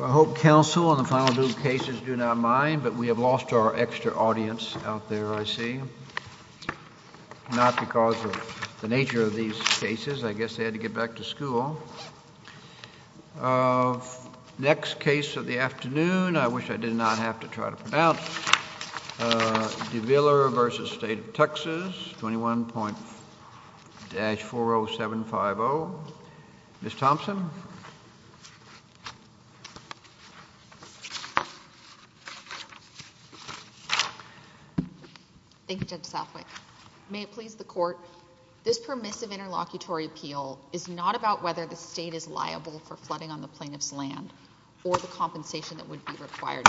I hope counsel on the final due cases do not mind, but we have lost our extra audience out there, I see, not because of the nature of these cases. I guess they had to get back to school. Next case of the afternoon, I wish I did not have to try to pronounce. DeVillier v. State of Texas, 21.-40750. Ms. Thompson? Thank you, Judge Southwick. May it please the court, this permissive interlocutory appeal is not about whether the state is liable for flooding on the plaintiff's land or the compensation that would be required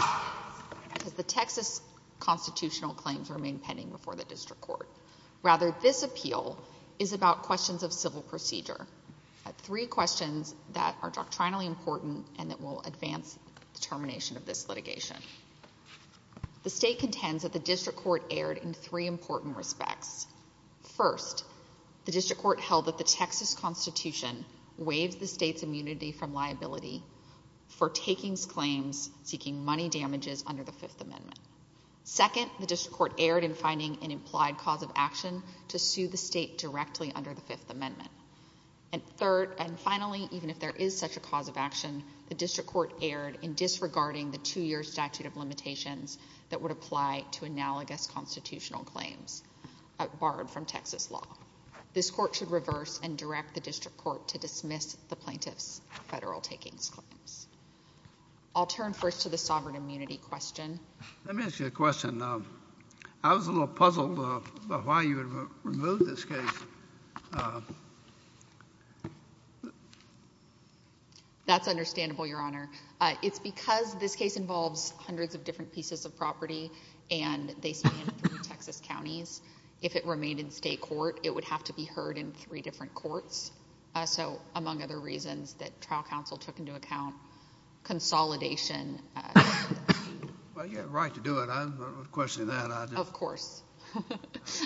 because the Texas constitutional claims remain pending before the district court. Rather, this appeal is about questions of civil procedure, three questions that are doctrinally important and that will advance the termination of this litigation. The state contends that the district court erred in three important respects. First, the district court held that the Texas constitution waived the state's immunity from liability for taking claims seeking money damages under the Fifth Amendment. Second, the district court erred in finding an implied cause of action to sue the state directly under the Fifth Amendment. And third, and finally, even if there is such a cause of action, the district court erred in disregarding the two-year statute of limitations that would apply to analogous constitutional claims borrowed from Texas law. This court should reverse and direct the district court to dismiss the plaintiff's federal takings claims. I'll turn first to the sovereign immunity question. Let me ask you a question. I was a little puzzled about why you had removed this case. That's understandable, Your Honor. It's because this case involves hundreds of different pieces of property and they span three Texas counties. If it remained in state court, it would have to be heard in three different courts. So, among other reasons that trial counsel took into account, consolidation... Well, you had a right to do it. I'm not questioning that. Of course.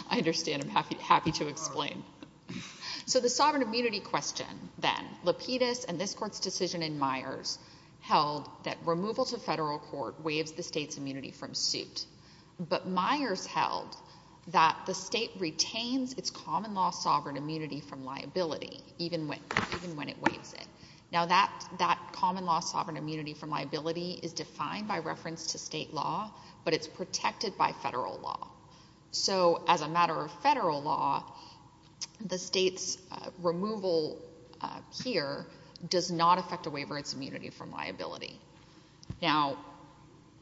I understand. I'm happy to explain. So the sovereign immunity question then, Lapidus and this court's decision in Myers held that removal to federal court waives the state's retains its common law sovereign immunity from liability, even when it waives it. Now, that common law sovereign immunity from liability is defined by reference to state law, but it's protected by federal law. So, as a matter of federal law, the state's removal here does not affect a waiver of its immunity from liability. Now,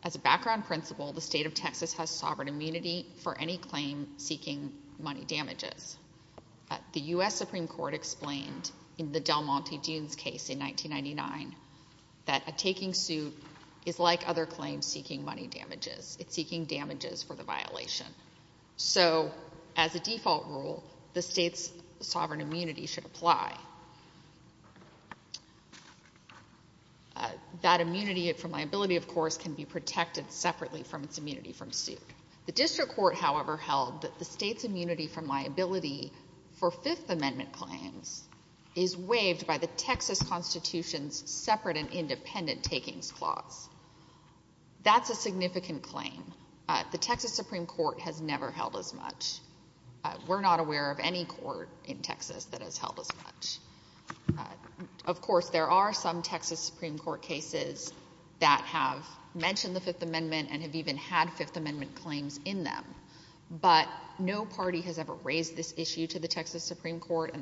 as a background principle, the state of Texas has sovereign immunity for any claim seeking money damages. The U.S. Supreme Court explained in the Del Monte Dunes case in 1999 that a taking suit is like other claims seeking money damages. It's seeking damages for the violation. So, as a default rule, the state's sovereign immunity should apply. That immunity from liability, of course, can be protected separately from its immunity from suit. The district court, however, held that the state's immunity from liability for Fifth Amendment claims is waived by the Texas Constitution's separate and independent takings clause. That's a significant claim. The Texas Supreme Court has never held as much. We're not aware of any court in Texas that has held as much. Of course, there are some Texas Supreme Court cases that have mentioned the Fifth Amendment and have even had Fifth Amendment claims in them, but no party has ever raised this issue to the Texas Supreme Court,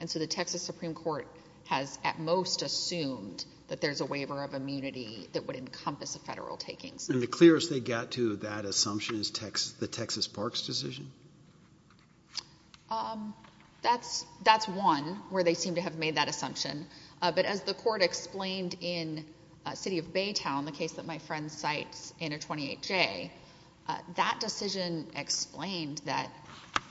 and so the Texas Supreme Court has at most assumed that there's a waiver of immunity that would encompass a federal taking suit. And the clearest they got to that assumption is the Texas Parks decision? That's one, where they seem to have made that assumption, but as the court explained in City of Baytown, the case that my friend cites in a 28J, that decision explained that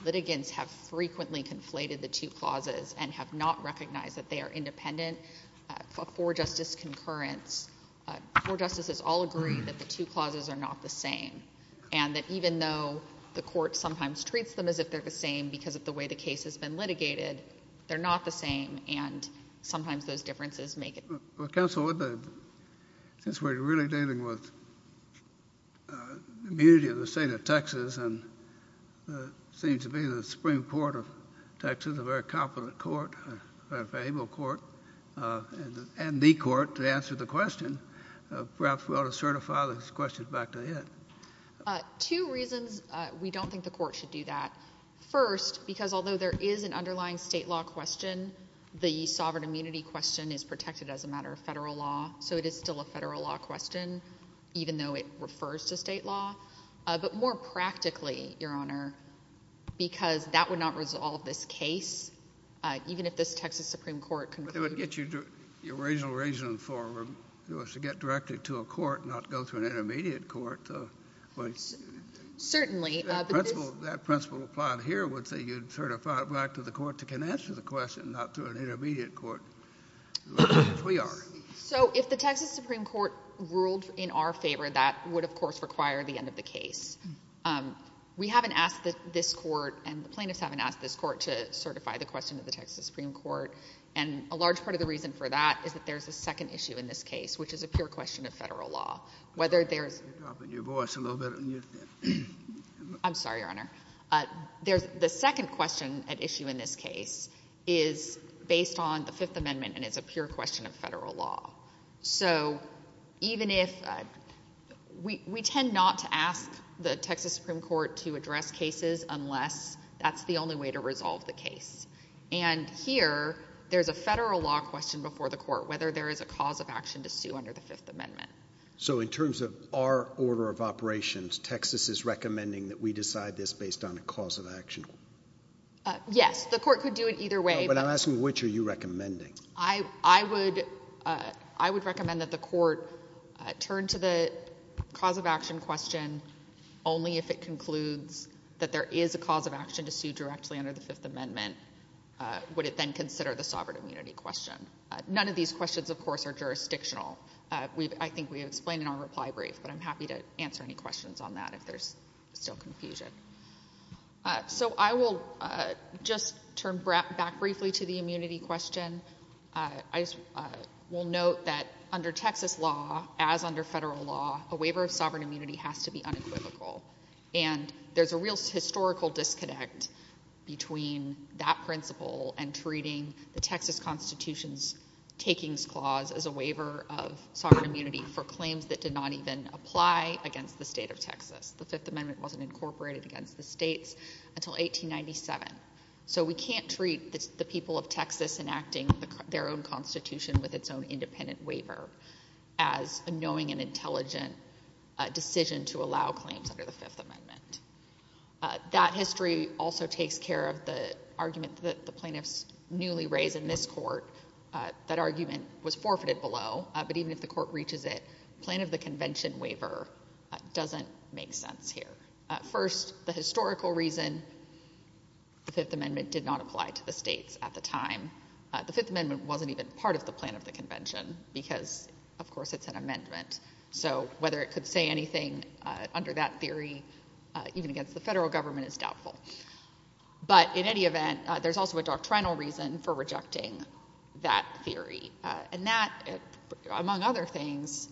litigants have frequently conflated the two clauses and have not recognized that they are independent for justice concurrence. Four justices all agree that the two clauses are not the same, and that even though the court sometimes treats them as if they're the same because of the way the case has been litigated, they're not the same, and sometimes those differences make it. Well, Counsel, since we're really dealing with the immunity of the state of Texas and what seems to be the Supreme Court of Texas, a very competent court, a very faithful court, and the court to answer the question, perhaps we ought to certify this question back to it. Two reasons we don't think the court should do that. First, because although there is an underlying state law question, the sovereign immunity question is protected as a matter of federal law, so it is still a federal law question, even though it refers to state law. But more practically, Your Honor, because that would not resolve this case, even if this Texas Supreme Court concluded... But it would get you a reasonable reason for us to get directly to a court and not go to an intermediate court. Certainly. That principle applied here would say you'd certify it back to the court that can answer the question, not to an intermediate court, which we are. So if the Texas Supreme Court ruled in our favor, that would, of course, require the end of the case. We haven't asked this court, and the plaintiffs haven't asked this court to certify the question to the Texas Supreme Court. And a large part of the reason for that is that there's a second issue in this case, which is a pure question of federal law. Whether there's... You're dropping your voice a little bit on your thing. I'm sorry, Your Honor. The second question at issue in this case is based on the Fifth Amendment, and it's a pure question of federal law. So even if... we tend not to ask the And here, there's a federal law question before the court, whether there is a cause of action to sue under the Fifth Amendment. So in terms of our order of operations, Texas is recommending that we decide this based on a cause of action? Yes. The court could do it either way, but... No, but I'm asking which are you recommending? I would recommend that the court turn to the cause of action question only if it concludes that there is a cause of action to sue directly under the Fifth Amendment. Would it then consider the sovereign immunity question? None of these questions, of course, are jurisdictional. I think we have explained in our reply brief, but I'm happy to answer any questions on that if there's still confusion. So I will just turn back briefly to the immunity question. I will note that under Texas law, as under federal law, a waiver of sovereign immunity has to be unequivocal. And there's a real historical disconnect between that principle and treating the Texas Constitution's takings clause as a waiver of sovereign immunity for claims that did not even apply against the state of Texas. The Fifth Amendment wasn't incorporated against the states until 1897. So we can't treat the people of Texas enacting their own constitution with its own independent waiver as a knowing and intelligent decision to allow claims under the Fifth Amendment. That history also takes care of the argument that the plaintiffs newly raised in this court. That argument was forfeited below, but even if the court reaches it, plan of the convention waiver doesn't make sense here. First, the historical reason, the Fifth Amendment did not apply to the states at the time. The historical plan of the convention, because, of course, it's an amendment. So whether it could say anything under that theory, even against the federal government, is doubtful. But in any event, there's also a doctrinal reason for rejecting that theory. And that, among other things,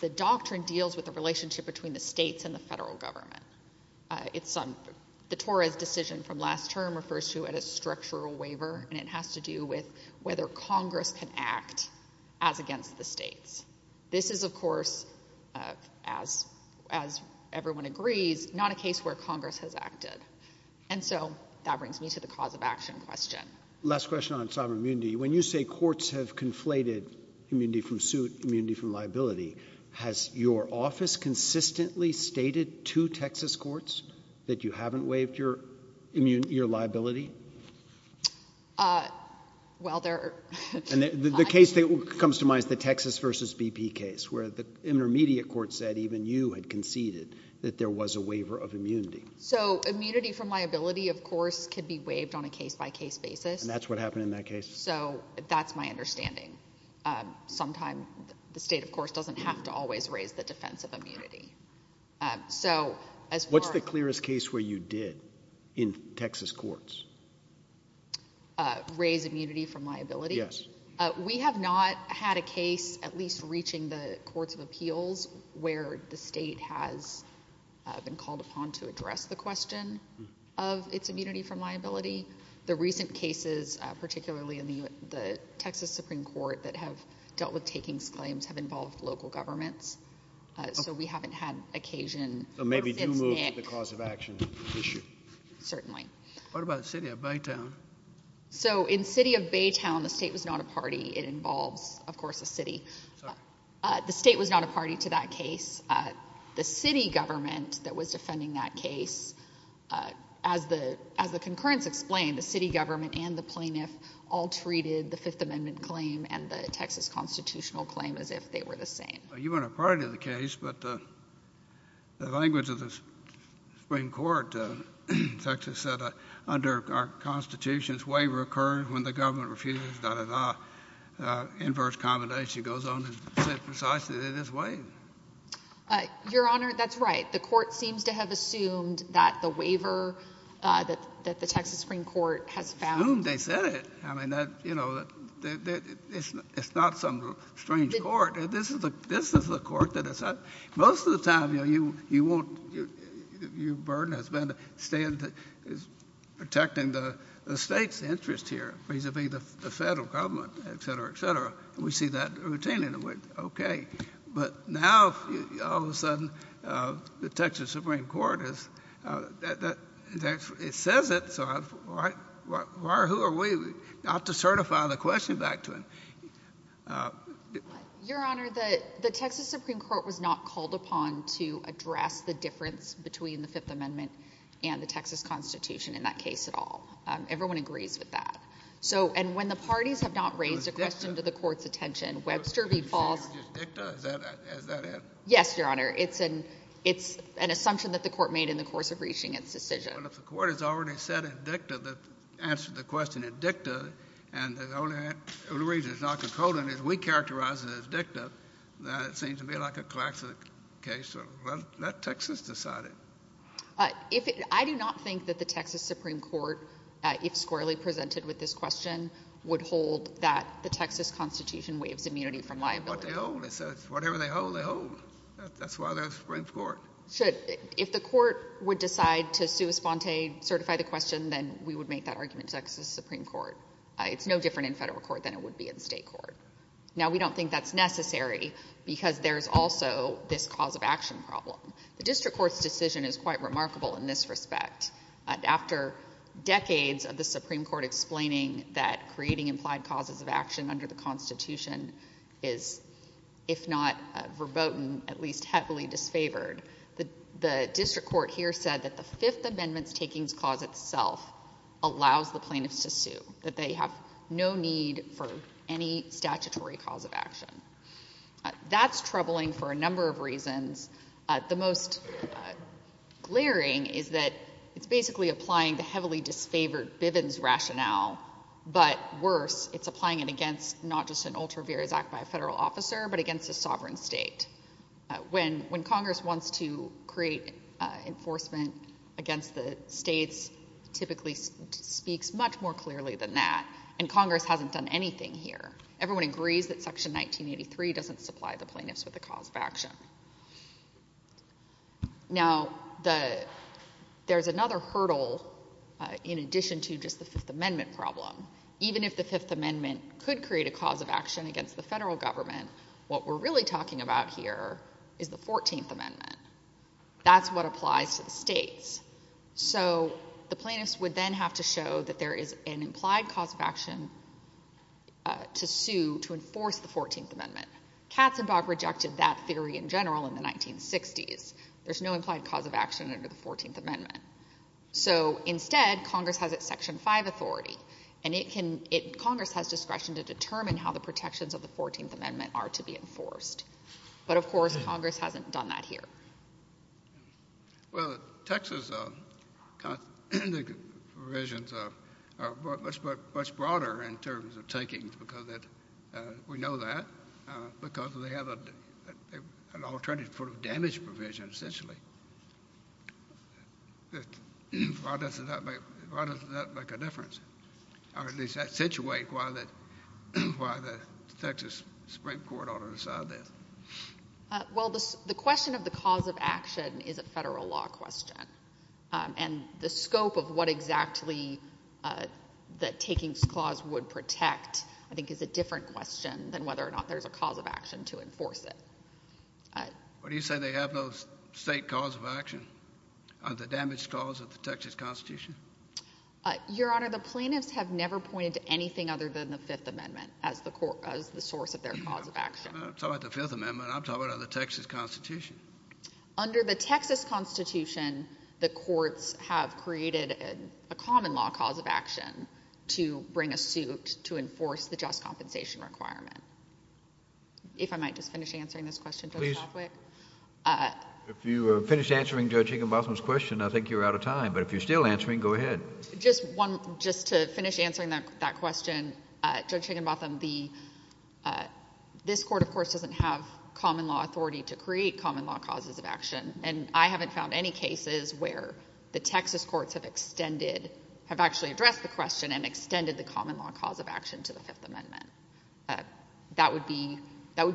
the doctrine deals with the relationship between the states and the federal government. The Torah's decision from last term refers to it as structural waiver, and it has to do with whether Congress can act as against the states. This is, of course, as everyone agrees, not a case where Congress has acted. And so that brings me to the cause of action question. Last question on sovereign immunity. When you say courts have conflated immunity from suit, immunity from liability, has your office consistently stated to Texas courts that you haven't waived your liability? Well, there are... The case that comes to mind is the Texas v. BP case, where the intermediate court said even you had conceded that there was a waiver of immunity. So immunity from liability, of course, could be waived on a case-by-case basis. That's what happened in that case. So that's my understanding. Sometime, the state, of course, doesn't have to always raise the defense of immunity. What's the clearest case where you did in Texas courts? Raise immunity from liability? Yes. We have not had a case, at least reaching the courts of appeals, where the state has been called upon to address the question of its immunity from liability. The recent cases, particularly in the Texas Supreme Court, that have dealt with takings claims have involved local governments. So we haven't had occasion... So maybe do move to the cause of action issue? Certainly. What about the city of Baytown? So in the city of Baytown, the state was not a party. It involves, of course, the city. The state was not a party to that case. The city government that was defending that case, as the concurrence explained, the city government and the plaintiff all treated the Fifth Amendment claim and the Texas constitutional claim as if they were the same. You weren't a party to the case, but the language of the Supreme Court in Texas said, under our Constitution, a waiver occurs when the government refuses, da-da-da. Inverse commendation goes on to say precisely that it is waived. Your Honor, that's right. The Court seems to have assumed that the waiver that the Texas Supreme Court has found... It's not some strange court. This is the court that has... Most of the time, your burden has been protecting the state's interest here, vis-a-vis the federal government, et cetera, et cetera. We see that routinely. Okay. But now, all of a sudden, the Texas Supreme Court is... It says it, so who are we not to certify the question back to it? Your Honor, the Texas Supreme Court was not called upon to address the difference between the Fifth Amendment and the Texas Constitution in that case at all. Everyone agrees with that. When the parties have not raised a question to the Court's attention, Webster v. Falls... Was it just dicta? Is that it? Yes, your Honor. It's an assumption that the Court made in the course of reaching its decision. Well, if the Court has already said it's dicta, answered the question as dicta, and the only reason it's not a colon is we characterize it as dicta, then it seems to me like a classic case, so let Texas decide it. I do not think that the Texas Supreme Court, if squarely presented with this question, would hold that the Texas Constitution waives immunity from liability. That's what they hold. It's whatever they hold, they hold. That's why they're a Supreme Court. Should. If the Court would decide to sui sponte, certify the question, then we would make that argument to Texas Supreme Court. It's no different in federal court than it would be in state court. Now, we don't think that's necessary because there's also this cause of action problem. The district court's decision is quite remarkable in this respect. After decades of the Supreme Court explaining that creating implied causes of action under the Constitution is, if not verboten, at least heavily disfavored, the district court here said that the Fifth Amendment's takings clause itself allows the plaintiffs to sue, that they have no need for any statutory cause of action. That's troubling for a number of reasons. The most glaring is that it's basically applying the heavily disfavored Bivens rationale, but worse, it's applying it against not just an ultra vires act by a federal officer, but against a sovereign state. When Congress wants to create enforcement against the states, it typically speaks much more clearly than that, and Congress hasn't done anything here. Everyone agrees that section 1983 doesn't supply the plaintiffs with a cause of action. There's another hurdle in addition to just the Fifth Amendment problem. Even if the Fifth Amendment could create a cause of action against the federal government, what we're really talking about here is the Fourteenth Amendment. That's what applies to the states. The plaintiffs would then have to show that there is an implied cause of action to sue to enforce the Fourteenth Amendment. Katzenbach rejected that theory in general in the 1960s. There's no implied cause of action under the Fourteenth Amendment. Instead, Congress has its Section 5 authority, and Congress has discretion to determine how the protections of the Fourteenth Amendment are to be enforced. But of course, Congress hasn't done that here. Well, Texas' provisions are much broader in terms of takings, because we know that, because they have an alternative sort of damage provision, essentially. Why does that make a difference? Or at least accentuate why the Texas Supreme Court ought to decide that? Well, the question of the cause of action is a federal law question. And the scope of what exactly the takings clause would protect, I think, is a different question than whether or not there's a cause of action to enforce it. But do you say they have no state cause of action, the damage clause of the Texas Constitution? Your Honor, the plaintiffs have never pointed to anything other than the Fifth Amendment as the source of their cause of action. I'm talking about the Fifth Amendment. I'm talking about the Texas Constitution. Under the Texas Constitution, the courts have created a common law cause of action to bring a suit to enforce the just compensation requirement. If I might just finish answering this question, Judge Hoffwick. If you finish answering Judge Higginbotham's question, I think you're out of time. But if you're still answering, go ahead. Just to finish answering that question, Judge Higginbotham, this Court, of course, doesn't have common law authority to create common law causes of action. And I haven't found any cases where the Texas courts have extended, have actually addressed the question and extended the common law cause of action to the Fifth Amendment. That would be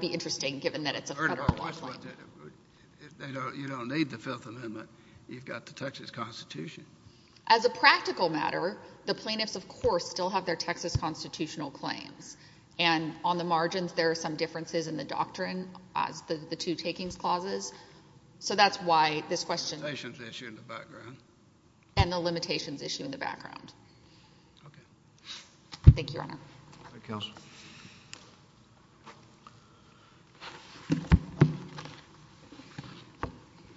interesting given that it's a federal law claim. You don't need the Fifth Amendment. You've got the Texas Constitution. As a practical matter, the plaintiffs, of course, still have their Texas Constitutional claims. And on the margins, there are some differences in the doctrine as the two takings clauses. So that's why this question... And the limitations issue in the background. And the limitations issue in the background. Okay. Thank you, Your Honor. Thank you, Counsel.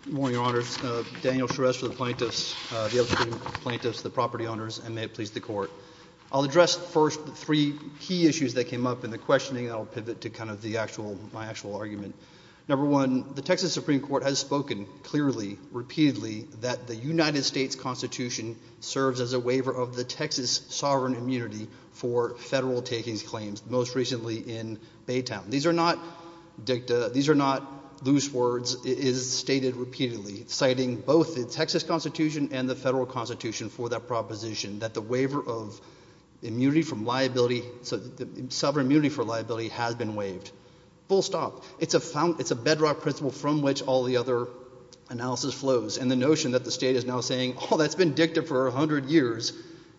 Good morning, Your Honors. Daniel Charest for the plaintiffs, the plaintiffs, the property owners, and may it please the Court. I'll address first the three key issues that came up in the questioning, and I'll pivot to kind of the actual, my actual argument. Number one, the Texas Supreme Court has spoken clearly, repeatedly, that the United States Constitution serves as a waiver of the Texas sovereign immunity for federal takings claims, most recently in Baytown. These are not dicta, these are not loose words. It is stated repeatedly, citing both the Texas Constitution and the federal Constitution for that proposition, that the waiver of immunity from liability, sovereign immunity for liability, has been waived, full stop. It's a bedrock principle from which all the other analysis flows, and the notion that the state is now saying, oh, that's been dicta for a hundred years,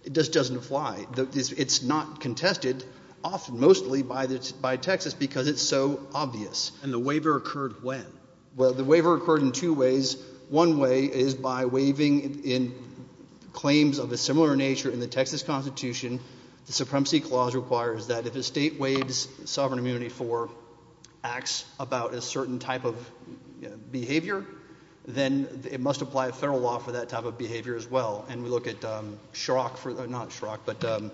it just doesn't apply. It's not contested, often, mostly, by Texas, because it's so obvious. And the waiver occurred when? Well, the waiver occurred in two ways. One way is by waiving in claims of a similar nature in the Texas Constitution. The Supremacy Clause requires that if a state waives sovereign immunity for acts about a certain type of behavior, then it must apply a federal law for that type of behavior, as well. And we look at Shrock, not Shrock, but...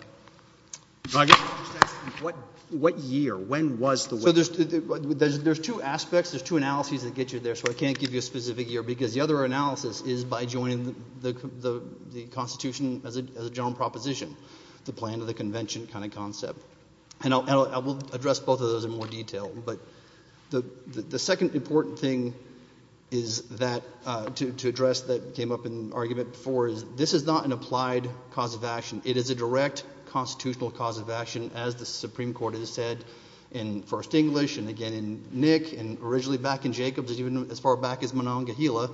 What year? When was the waiver? So there's two aspects, there's two analyses that get you there, so I can't give you a specific year, because the other analysis is by joining the Constitution as a general proposition, the plan of the convention kind of concept. And I will address both of those in more detail, but the second important thing is that, to address that came up in argument before, is this is not an applied cause of action. It is a direct constitutional cause of action, as the Supreme Court has said in First English, and again in Nick, and originally back in Jacobs, even as far back as Monongahela.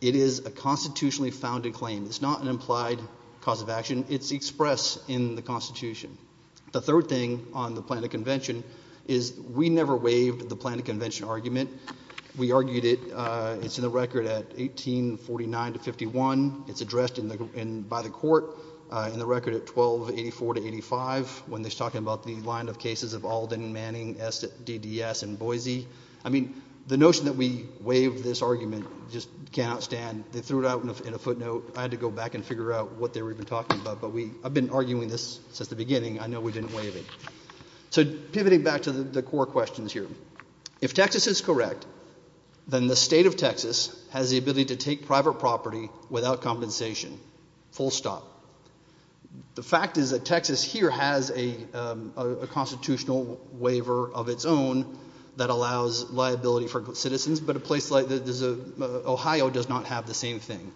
It is a constitutionally founded claim. It's not an implied cause of action, it's expressed in the Constitution. The third thing on the plan of convention is, we never waived the plan of convention argument. We argued it, it's in the record at 1849 to 51, it's addressed by the court in the record at 1284 to 85, when they're talking about the line of cases of Alden, Manning, S.D.D.S., and Boise. I mean, the notion that we waived this argument just cannot stand. They threw it out in a footnote, I had to go back and figure out what they were talking about, but we, I've been arguing this since the beginning, I know we didn't waive it. So pivoting back to the core questions here. If Texas is correct, then the state of Texas has the ability to take private property without compensation, full stop. The fact is that Texas here has a constitutional waiver of its own that allows liability for citizens, but Ohio does not have the same thing.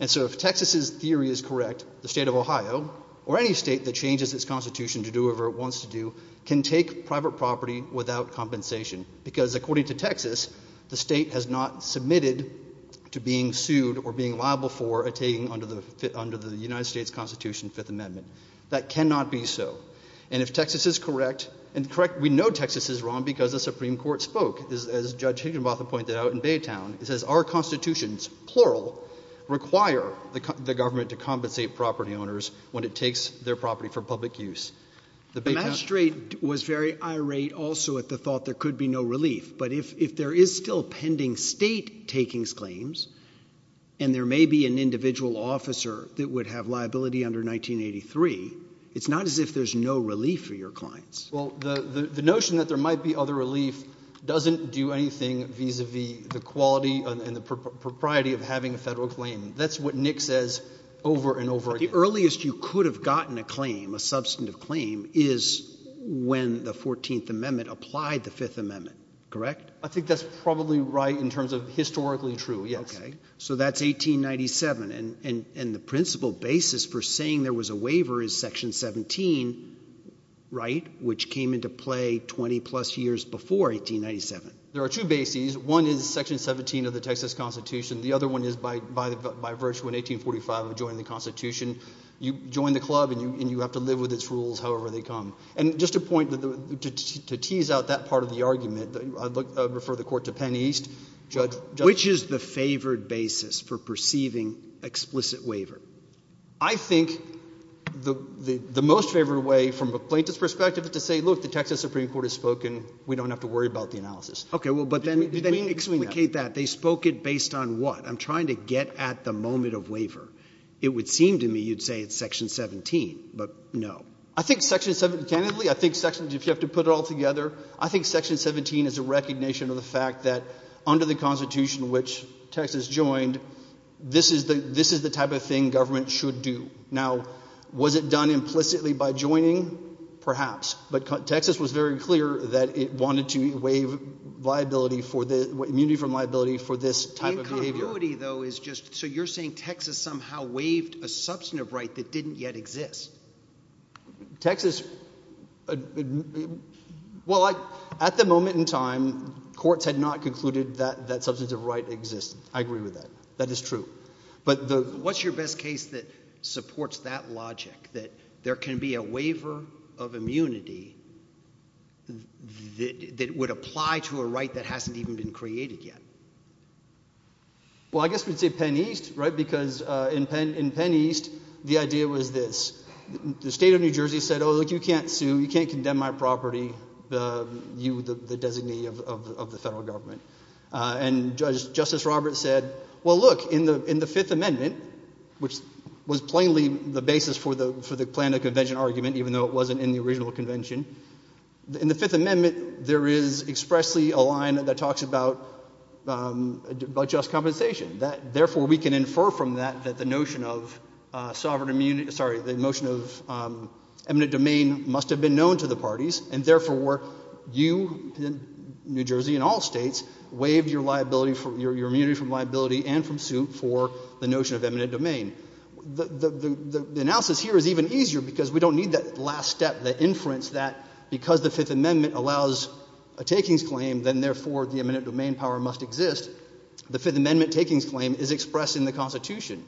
And so if Texas's theory is correct, the state of Ohio, or any state that changes its constitution to do whatever it wants to do, can take private property without compensation. Because according to Texas, the state has not submitted to being sued or being liable for a taking under the United States Constitution, Fifth Amendment. That cannot be so. And if Texas is correct, and correct, we know Texas is wrong because the Supreme Court spoke, as Judge Higginbotham pointed out in Baytown, it says our constitutions, plural, require the government to compensate property owners when it takes their property for public use. The Baytown- The magistrate was very irate also at the thought there could be no relief. But if there is still pending state takings claims, and there may be an individual officer that would have liability under 1983, it's not as if there's no relief for your clients. Well, the notion that there might be other relief doesn't do anything vis-a-vis the quality and the propriety of having a federal claim. That's what Nick says over and over again. The earliest you could have gotten a claim, a substantive claim, is when the 14th Amendment applied the Fifth Amendment, correct? I think that's probably right in terms of historically true, yes. Okay. So that's 1897. And the principal basis for saying there was a waiver is Section 17, right? Which came into play 20-plus years before 1897. There are two bases. One is Section 17 of the Texas Constitution. The other one is by virtue in 1845 of joining the Constitution, you join the club and you have to live with its rules however they come. And just to point, to tease out that part of the argument, I refer the court to Penn East, Judge- Which is the favored basis for perceiving explicit waiver? I think the most favored way from a plaintiff's perspective is to say, look, the Texas Supreme Court has spoken. We don't have to worry about the analysis. Okay. Well, but then- Did we explicate that? They spoke it based on what? I'm trying to get at the moment of waiver. It would seem to me you'd say it's Section 17, but no. I think Section 17, candidly, I think Section, if you have to put it all together, I think Section 17 is a recognition of the fact that under the Constitution which Texas joined, this is the type of thing government should do. Now, was it done implicitly by joining? Perhaps. But Texas was very clear that it wanted to waive liability for the, immunity from liability for this type of behavior. Inconclusivity though is just, so you're saying Texas somehow waived a substantive right that didn't yet exist? Texas, well, at the moment in time, courts had not concluded that that substantive right existed. I agree with that. That is true. But the- What's your best case that supports that logic? That there can be a waiver of immunity that would apply to a right that hasn't even been created yet? Well, I guess we'd say Penn East, right? Because in Penn East, the idea was this. The state of New Jersey said, oh, look, you can't sue, you can't condemn my property, you, the designee of the federal government. And Justice Roberts said, well, look, in the Fifth Amendment, which was plainly the basis for the plan of convention argument, even though it wasn't in the original convention, in the Fifth Amendment, there is expressly a line that talks about just compensation. Therefore, we can infer from that that the notion of sovereign immunity, sorry, the notion of eminent domain must have been known to the parties, and therefore, you, New Jersey and all states, waived your liability, your immunity from liability and from suit for the notion of eminent domain. The analysis here is even easier because we don't need that last step, that inference that because the Fifth Amendment allows a takings claim, then therefore the eminent domain power must exist. The Fifth Amendment takings claim is expressed in the Constitution.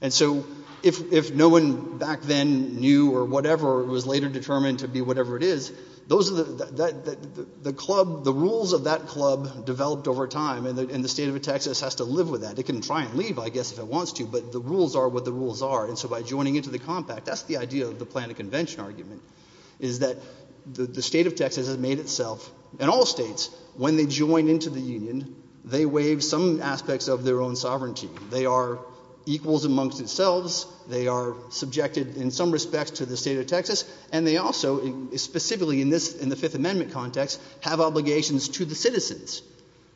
And so if no one back then knew or whatever was later determined to be whatever it is, those are the, the club, the rules of that club developed over time, and the state of Texas has to live with that. It can try and leave, I guess, if it wants to, but the rules are what the rules are. And so by joining into the compact, that's the idea of the plan of convention argument, is that the state of Texas has made itself, and all states, when they join into the union, they waive some aspects of their own sovereignty. They are equals amongst themselves, they are subjected in some respects to the state of Texas, and they also, specifically in the Fifth Amendment context, have obligations to the citizens.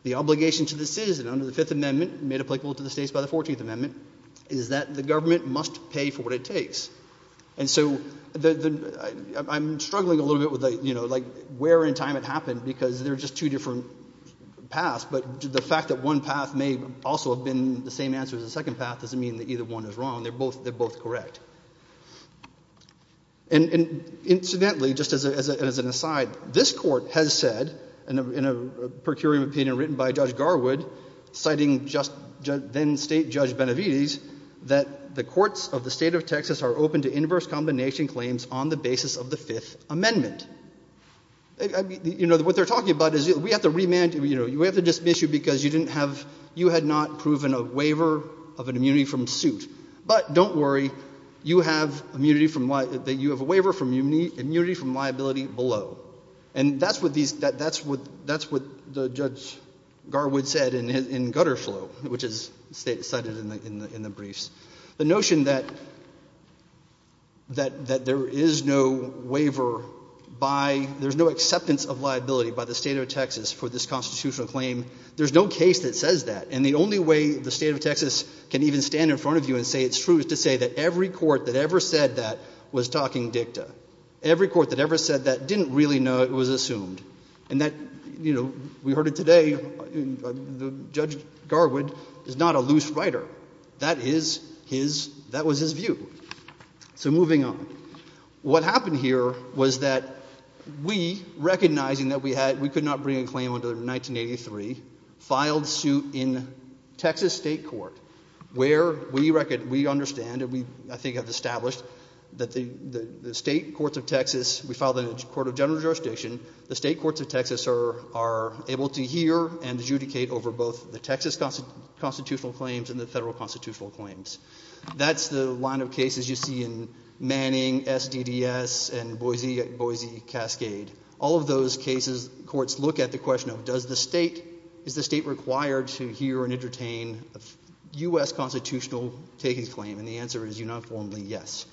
The obligation to the citizen under the Fifth Amendment, made applicable to the states by the Fourteenth Amendment, is that the government must pay for what it takes. And so I'm struggling a little bit with the, you know, like, where and time it happened, because they're just two different paths, but the fact that one path may also have been the same answer as the second path doesn't mean that either one is wrong. They're both correct. And incidentally, just as an aside, this court has said, in a procuring opinion written by Judge Garwood, citing then-State Judge Benavides, that the courts of the state of Texas are open to inverse combination claims on the basis of the Fifth Amendment. You know, what they're talking about is, we have to remand you, you know, we have to dismiss you because you didn't have, you had not proven a waiver of an immunity from suit. But don't worry, you have immunity from, that you have a waiver from immunity from liability below. And that's what these, that's what, that's what Judge Garwood said in Gutterflow, which is cited in the briefs. The notion that, that there is no waiver by, there's no acceptance of liability by the state of Texas for this constitutional claim, there's no case that says that. And the only way the state of Texas can even stand in front of you and say it's true is to say that every court that ever said that was talking dicta. Every court that ever said that didn't really know it was assumed. And that, you know, we heard it today, Judge Garwood is not a loose writer. That is his, that was his view. So moving on. What happened here was that we, recognizing that we had, we could not bring a claim until 1983, filed suit in Texas state court where we, we understand and we I think have established that the, the state courts of Texas, we filed in the court of general jurisdiction, the state courts of Texas are, are able to hear and adjudicate over both the Texas constitutional claims and the federal constitutional claims. That's the line of cases you see in Manning, S.D.D.S. and Boise, Boise Cascade. All of those cases, courts look at the question of does the state, is the state required to hear and entertain a U.S. constitutional taking claim? And the answer is uniformly yes.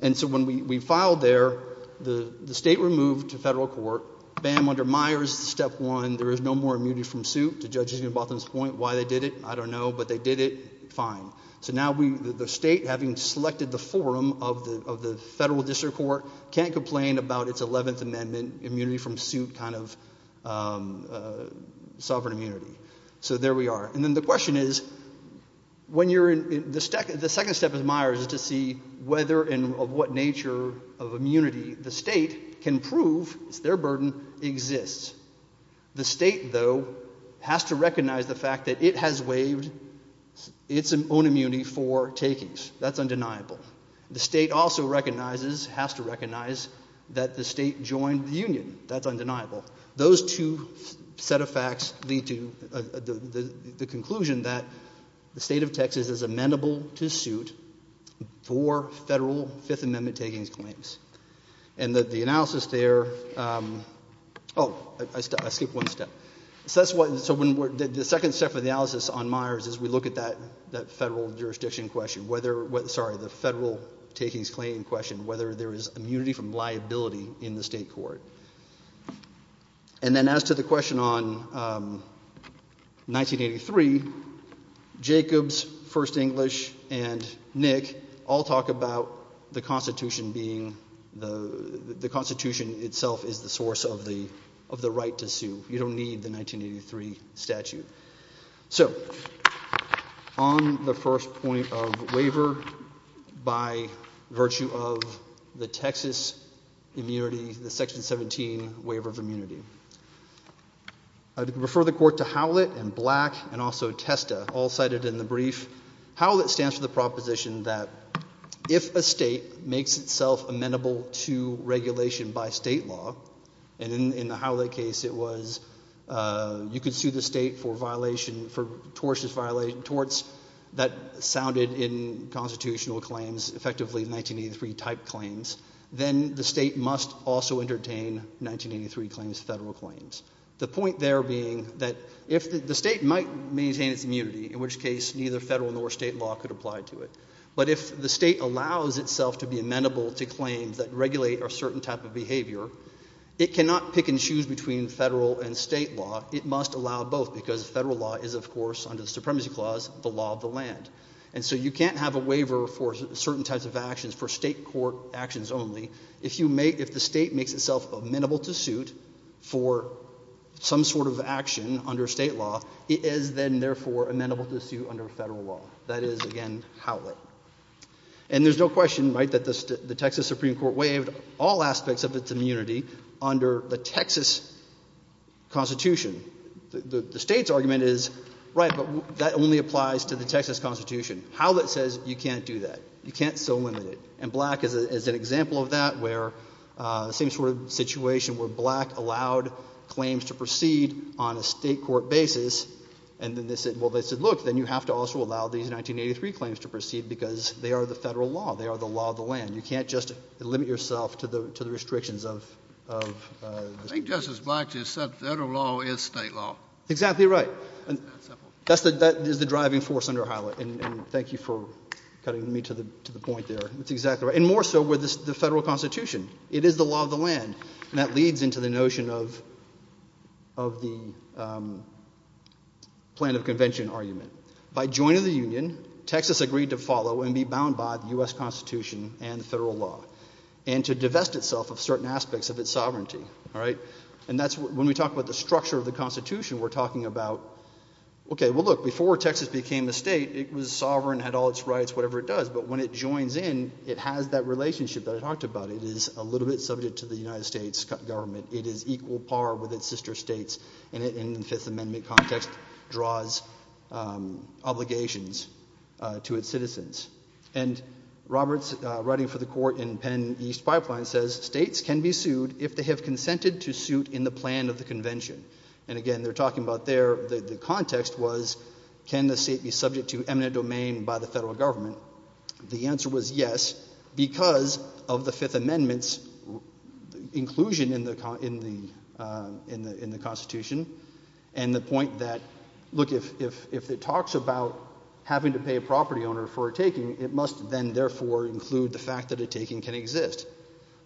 And so when we, we filed there, the, the state removed to federal court, bam, under Myers, step one, there is no more immunity from suit. The judges in Botham's point why they did it, I don't know, but they did it, fine. So now we, the state, having selected the forum of the, of the federal district court, can't complain about its 11th amendment immunity from suit kind of, um, sovereign immunity. So there we are. And then the question is, when you're in, the, the second step is Myers is to see whether and of what nature of immunity the state can prove their burden exists. The state, though, has to recognize the fact that it has waived its own immunity for takings. That's undeniable. The state also recognizes, has to recognize that the state joined the union. That's undeniable. Those two set of facts lead to the, the conclusion that the state of Texas is amenable to suit for federal fifth amendment takings claims. And that the analysis there, um, oh, I, I skipped one step. So that's what, so when we're, the second step of the analysis on Myers is we look at that, that federal jurisdiction question, whether, sorry, the federal takings claim question, whether there is immunity from liability in the state court. And then as to the question on, um, 1983, Jacobs, First Amendment, the, the constitution itself is the source of the, of the right to sue. You don't need the 1983 statute. So on the first point of waiver by virtue of the Texas immunity, the section 17 waiver of immunity, I'd refer the court to Howlett and Black and also Testa, all cited in the brief. How that stands for the proposition that if a state makes itself amenable to regulation by state law, and in, in the Howlett case it was, uh, you could sue the state for violation, for tortious violation, torts that sounded in constitutional claims, effectively 1983 type claims, then the state must also entertain 1983 claims, federal claims. The point there being that if the state might maintain its immunity, in which case neither federal nor state law could apply to it. But if the state allows itself to be amenable to claims that regulate a certain type of behavior, it cannot pick and choose between federal and state law. It must allow both because federal law is, of course, under the supremacy clause, the law of the land. And so you can't have a waiver for certain types of actions for state court actions only. If you make, if the state makes itself amenable to suit for some sort of action under state law, it is then therefore amenable to sue under federal law. That is, again, Howlett. And there's no question, right, that the Texas Supreme Court waived all aspects of its immunity under the Texas Constitution. The state's argument is, right, but that only applies to the Texas Constitution. Howlett says you can't do that. You can't so limit it. And Black is an example of that where, uh, same sort of situation where Black allowed claims to proceed on a state court basis. And then they said, well, they said, look, then you have to also allow these 1983 claims to proceed because they are the federal law. They are the law of the land. You can't just limit yourself to the, to the restrictions of, of, uh, I think Justice Black just said federal law is state law. Exactly right. That's the, that is the driving force under Howlett. And thank you for cutting me to the, to the point there. That's exactly right. And more so with the federal Constitution. It is the law of the land. And that leads into the notion of, of the, um, plan of convention argument. By joining the union, Texas agreed to follow and be bound by the U.S. Constitution and the federal law and to divest itself of certain aspects of its sovereignty. All right. And that's when we talk about the structure of the constitution, we're talking about, okay, well look, before Texas became a state, it was sovereign, had all its rights, whatever it does. But when it joins in, it has that relationship that I talked about. It is a little bit subject to the United States government. It is equal par with its sister states. And it, in the Fifth Amendment context draws, um, obligations, uh, to its citizens. And Roberts, uh, writing for the court in Penn East Pipeline says states can be sued if they have consented to suit in the plan of the convention. And again, they're talking about their, the context was, can the state be sued? The answer was yes, because of the Fifth Amendment's inclusion in the, in the, uh, in the, in the constitution. And the point that, look, if, if, if it talks about having to pay a property owner for a taking, it must then therefore include the fact that a taking can exist.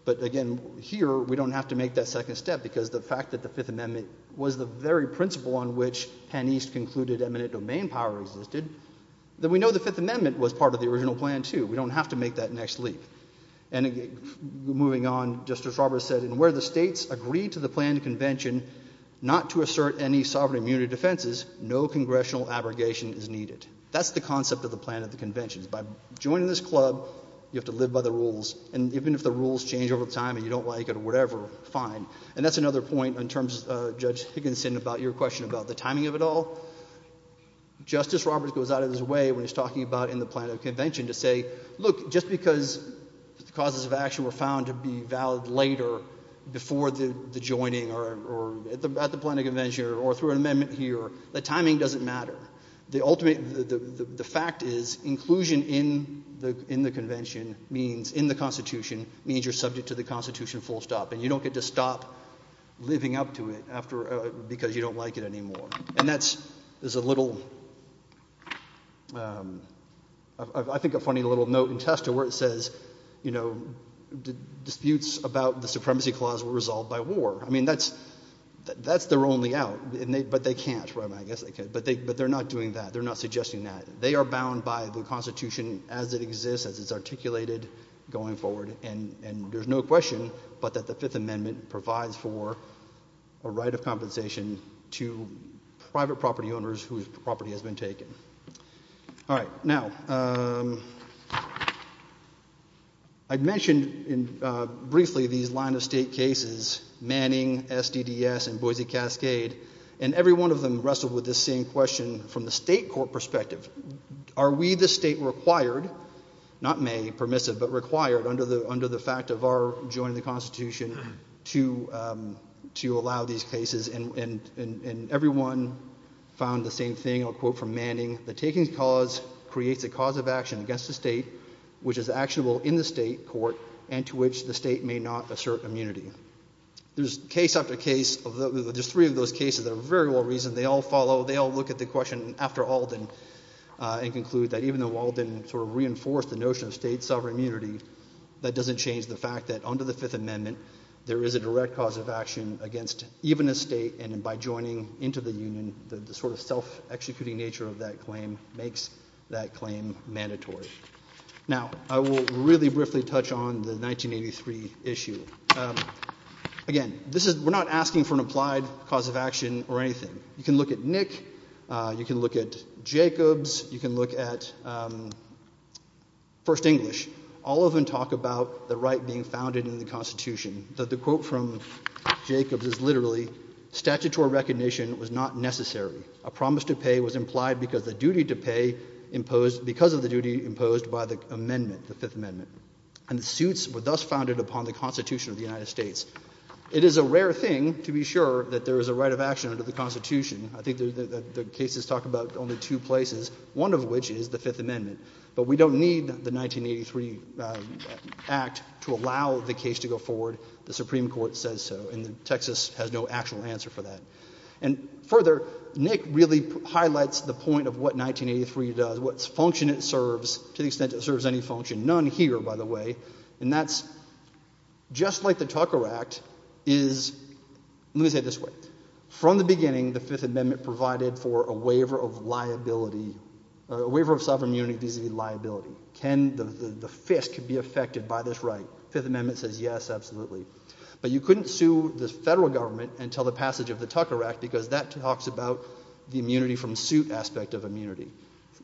But again, here, we don't have to make that second step, because the fact that the Fifth Amendment was the very principle on which Penn East concluded eminent domain power existed, then we know the Fifth Amendment was part of the original plan, too. We don't have to make that next leap. And again, moving on, Justice Roberts said, in where the states agree to the planned convention not to assert any sovereign immunity defenses, no congressional abrogation is needed. That's the concept of the plan of the conventions. By joining this club, you have to live by the rules. And even if the rules change over time and you don't like it or whatever, fine. And that's another point in terms of, uh, Judge Higginson about your question about the timing of it all. Justice Roberts goes out of his way when he's talking about in the plan of convention to say, look, just because the causes of action were found to be valid later before the, the joining or, or at the, at the plan of convention or through an amendment here, the timing doesn't matter. The ultimate, the, the, the fact is inclusion in the, in the convention means, in the Constitution, means you're subject to the Constitution full stop. And you don't get to stop living up to it after, uh, because you don't like it anymore. And that's, there's a little, um, I think a funny little note in Testa where it says, you know, disputes about the supremacy clause were resolved by war. I mean, that's, that's, they're only out and they, but they can't, right? I guess they could, but they, but they're not doing that. They're not suggesting that they are bound by the Constitution as it exists, as it's articulated going forward. And, and there's no question, but that the fifth amendment provides for a right of compensation to private property owners whose property has been taken. All right now, um, I'd mentioned in, uh, briefly these line of state cases, Manning, SDDS, and Boise Cascade, and every one of them wrestled with the same question from the state court perspective. Are we, the state, required, not may, permissive, but required under the, under the fact of our joining the Constitution to, um, to allow these cases? And, and, and everyone found the same thing. I'll quote from Manning, the taking cause creates a cause of action against the state, which is actionable in the state court and to which the state may not assert immunity. There's case after case of the, there's three of those cases that are very well reasoned. They all follow, they all look at the question after Alden, uh, and conclude that even though Alden sort of reinforced the notion of state sovereign immunity, that doesn't change the fact that under the fifth amendment, there is a direct cause of action against even a state. And by joining into the union, the sort of self-executing nature of that claim makes that claim mandatory. Now I will really briefly touch on the 1983 issue. Um, again, this is, we're not asking for an applied cause of action or anything. You can look at Nick, uh, you can look at Jacobs, you can look at, um, first English, all of them talk about the right being founded in the constitution that the quote from Jacobs is literally statutory recognition was not necessary. A promise to pay was implied because the duty to pay imposed because of the duty imposed by the amendment, the fifth amendment and the suits were thus founded upon the constitution of the United States. It is a rare thing to be sure that there is a right of action under the constitution. I think the, the, the cases talk about only two places, one of which is the fifth amendment, but we don't need the 1983, uh, act to allow the case to go forward. The Supreme Court says so, and the Texas has no actual answer for that. And further, Nick really highlights the point of what 1983 does, what function it serves to the extent it serves any function, none here, by the way. And that's just like the Tucker act is, let me say it this way from the beginning, the fifth amendment provided for a waiver of liability, a waiver of sovereign immunity, vis-a-vis liability. Can the fist could be affected by this right? Fifth amendment says, yes, absolutely. But you couldn't sue the federal government until the passage of the Tucker act, because that talks about the immunity from suit aspect of immunity.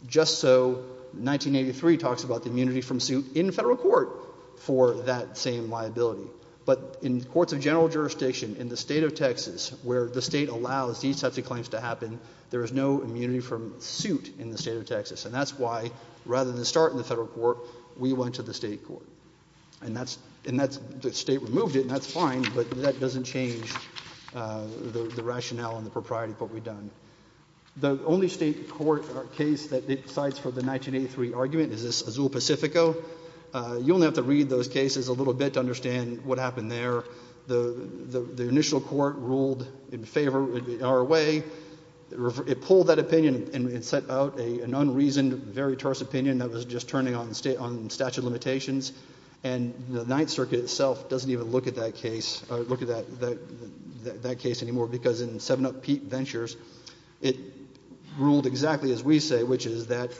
Just so 1983 talks about the court for that same liability, but in courts of general jurisdiction in the state of Texas, where the state allows these types of claims to happen, there is no immunity from suit in the state of Texas. And that's why rather than start in the federal court, we went to the state court and that's, and that's the state removed it and that's fine, but that doesn't change, uh, the rationale and the propriety of what we've done. The only state court case that decides for the 1983 argument is this Azul Pacifico. Uh, you'll have to read those cases a little bit to understand what happened there. The, the, the initial court ruled in favor of our way. It pulled that opinion and set out a, an unreasoned, very terse opinion that was just turning on state on statute of limitations. And the ninth circuit itself doesn't even look at that case or look at that, that, that case anymore because in seven up Pete ventures, it ruled exactly as we say, which is that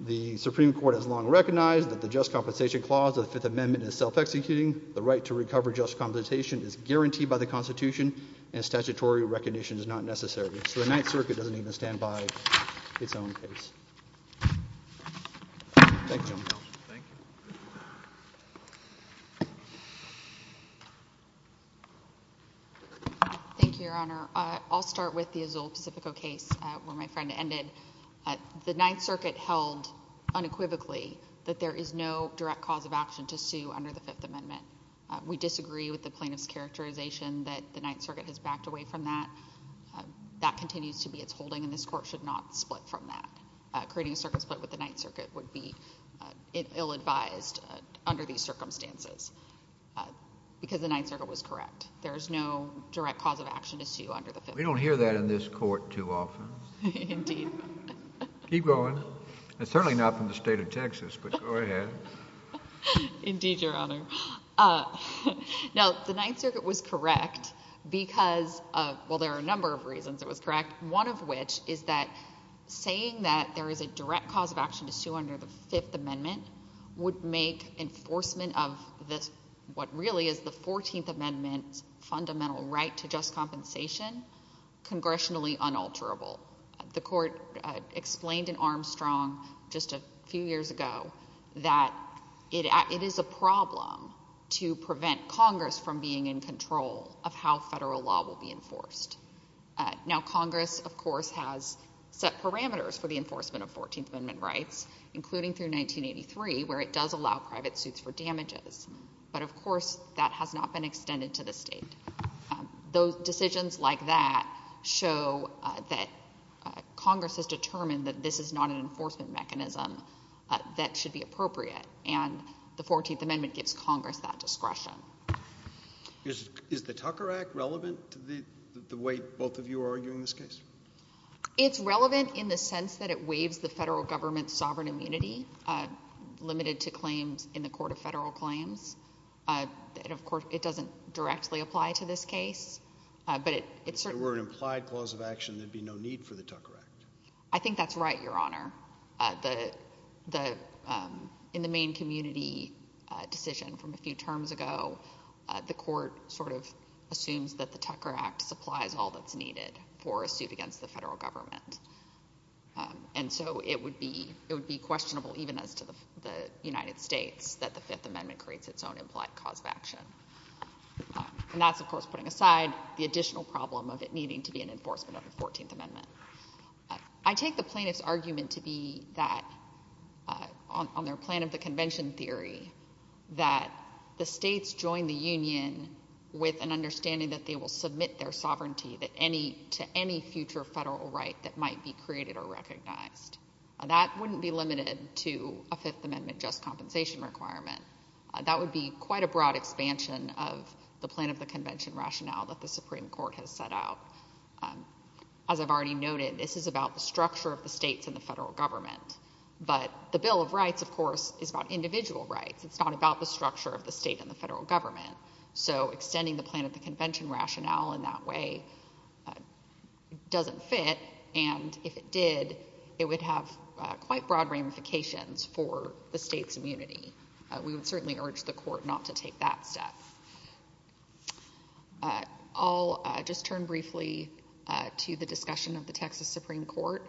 the Supreme court has long recognized that the just compensation clause of the fifth amendment is self-executing. The right to recover just compensation is guaranteed by the constitution and statutory recognition is not necessary. So the ninth circuit doesn't even stand by its own case. Okay. Thank you, Your Honor. I'll start with the Azul Pacifico case where my friend ended the ninth circuit held unequivocally that there is no direct cause of action to sue under the fifth amendment. We disagree with the plaintiff's characterization that the ninth circuit has backed away from that. That continues to be its holding in this court should not split from that, creating a circuit split with the ninth circuit would be ill-advised under these circumstances because the ninth circuit was correct. There is no direct cause of action issue under the fifth. We don't hear that in this court too often. Keep going. It's certainly not from the state of Texas, but go ahead. Indeed, Your Honor. Now the ninth circuit was correct because of, there are a number of reasons it was correct. One of which is that saying that there is a direct cause of action to sue under the fifth amendment would make enforcement of this, what really is the 14th amendment's fundamental right to just compensation, congressionally unalterable. The court explained in Armstrong just a few years ago that it is a problem to prevent Congress from being in control of how federal law will be enforced. Now, Congress, of course, has set parameters for the enforcement of 14th amendment rights, including through 1983, where it does allow private suits for damages. But of course, that has not been extended to the state. Those decisions like that show that Congress has determined that this is not an enforcement mechanism that should be appropriate. And the 14th amendment gives Congress that discretion. Is the Tucker Act relevant to the way both of you are arguing this case? It's relevant in the sense that it waives the federal government's sovereign immunity, limited to claims in the court of federal claims. Of course, it doesn't directly apply to this case, but it certainly... If there were an implied cause of action, there'd be no need for the Tucker Act. I think that's right, Your Honor. In the Maine community decision from a few terms ago, the court assumes that the Tucker Act supplies all that's needed for a suit against the federal government. And so it would be questionable, even as to the United States, that the Fifth Amendment creates its own implied cause of action. And that's, of course, putting aside the additional problem of it needing to be an enforcement of the 14th amendment. I take the plaintiff's argument to be that, on their plan of the convention theory, that the states join the union with an understanding that they will submit their sovereignty to any future federal right that might be created or recognized. That wouldn't be limited to a Fifth Amendment just compensation requirement. That would be quite a broad expansion of the plan of the convention rationale that the Supreme Court has set out. As I've already noted, this is about the structure of the states and the federal government. So extending the plan of the convention rationale in that way doesn't fit. And if it did, it would have quite broad ramifications for the state's immunity. We would certainly urge the court not to take that step. I'll just turn briefly to the discussion of the Texas Supreme Court.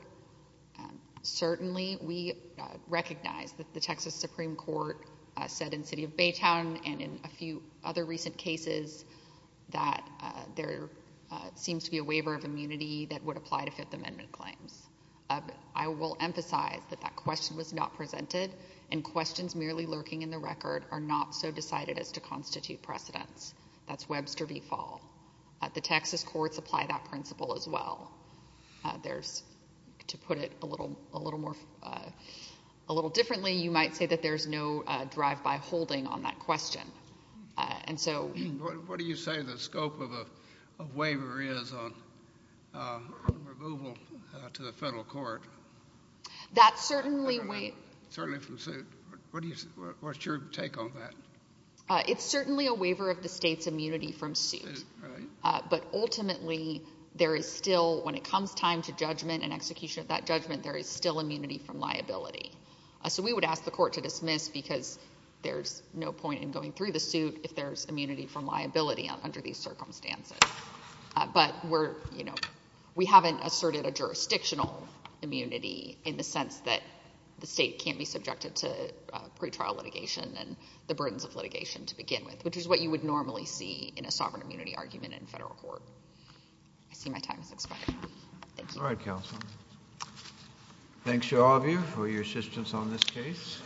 Certainly, we recognize that the Texas Supreme Court said in the city of Baytown and in a few other recent cases that there seems to be a waiver of immunity that would apply to Fifth Amendment claims. I will emphasize that that question was not presented, and questions merely lurking in the record are not so decided as to constitute precedents. That's Webster v. Hall. The Texas courts apply that principle as well. To put it a little differently, you might say that there's no drive-by holding on that question. What do you say the scope of a waiver is on removal to the federal court? Certainly from suit. What's your take on that? It's certainly a waiver of the state's immunity from suit. But ultimately, when it comes time to judgment and execution of that judgment, there is still immunity from liability. So we would ask the court to dismiss because there's no point in going through the suit if there's immunity from liability under these circumstances. But we haven't asserted a jurisdictional immunity in the sense that the state can't be subjected to pretrial litigation and the burdens of litigation to begin with, which is what you would normally see in a sovereign immunity argument in federal court. I see my time is expiring. Thank you. All right, counsel. Thanks to all of you for your assistance on this case.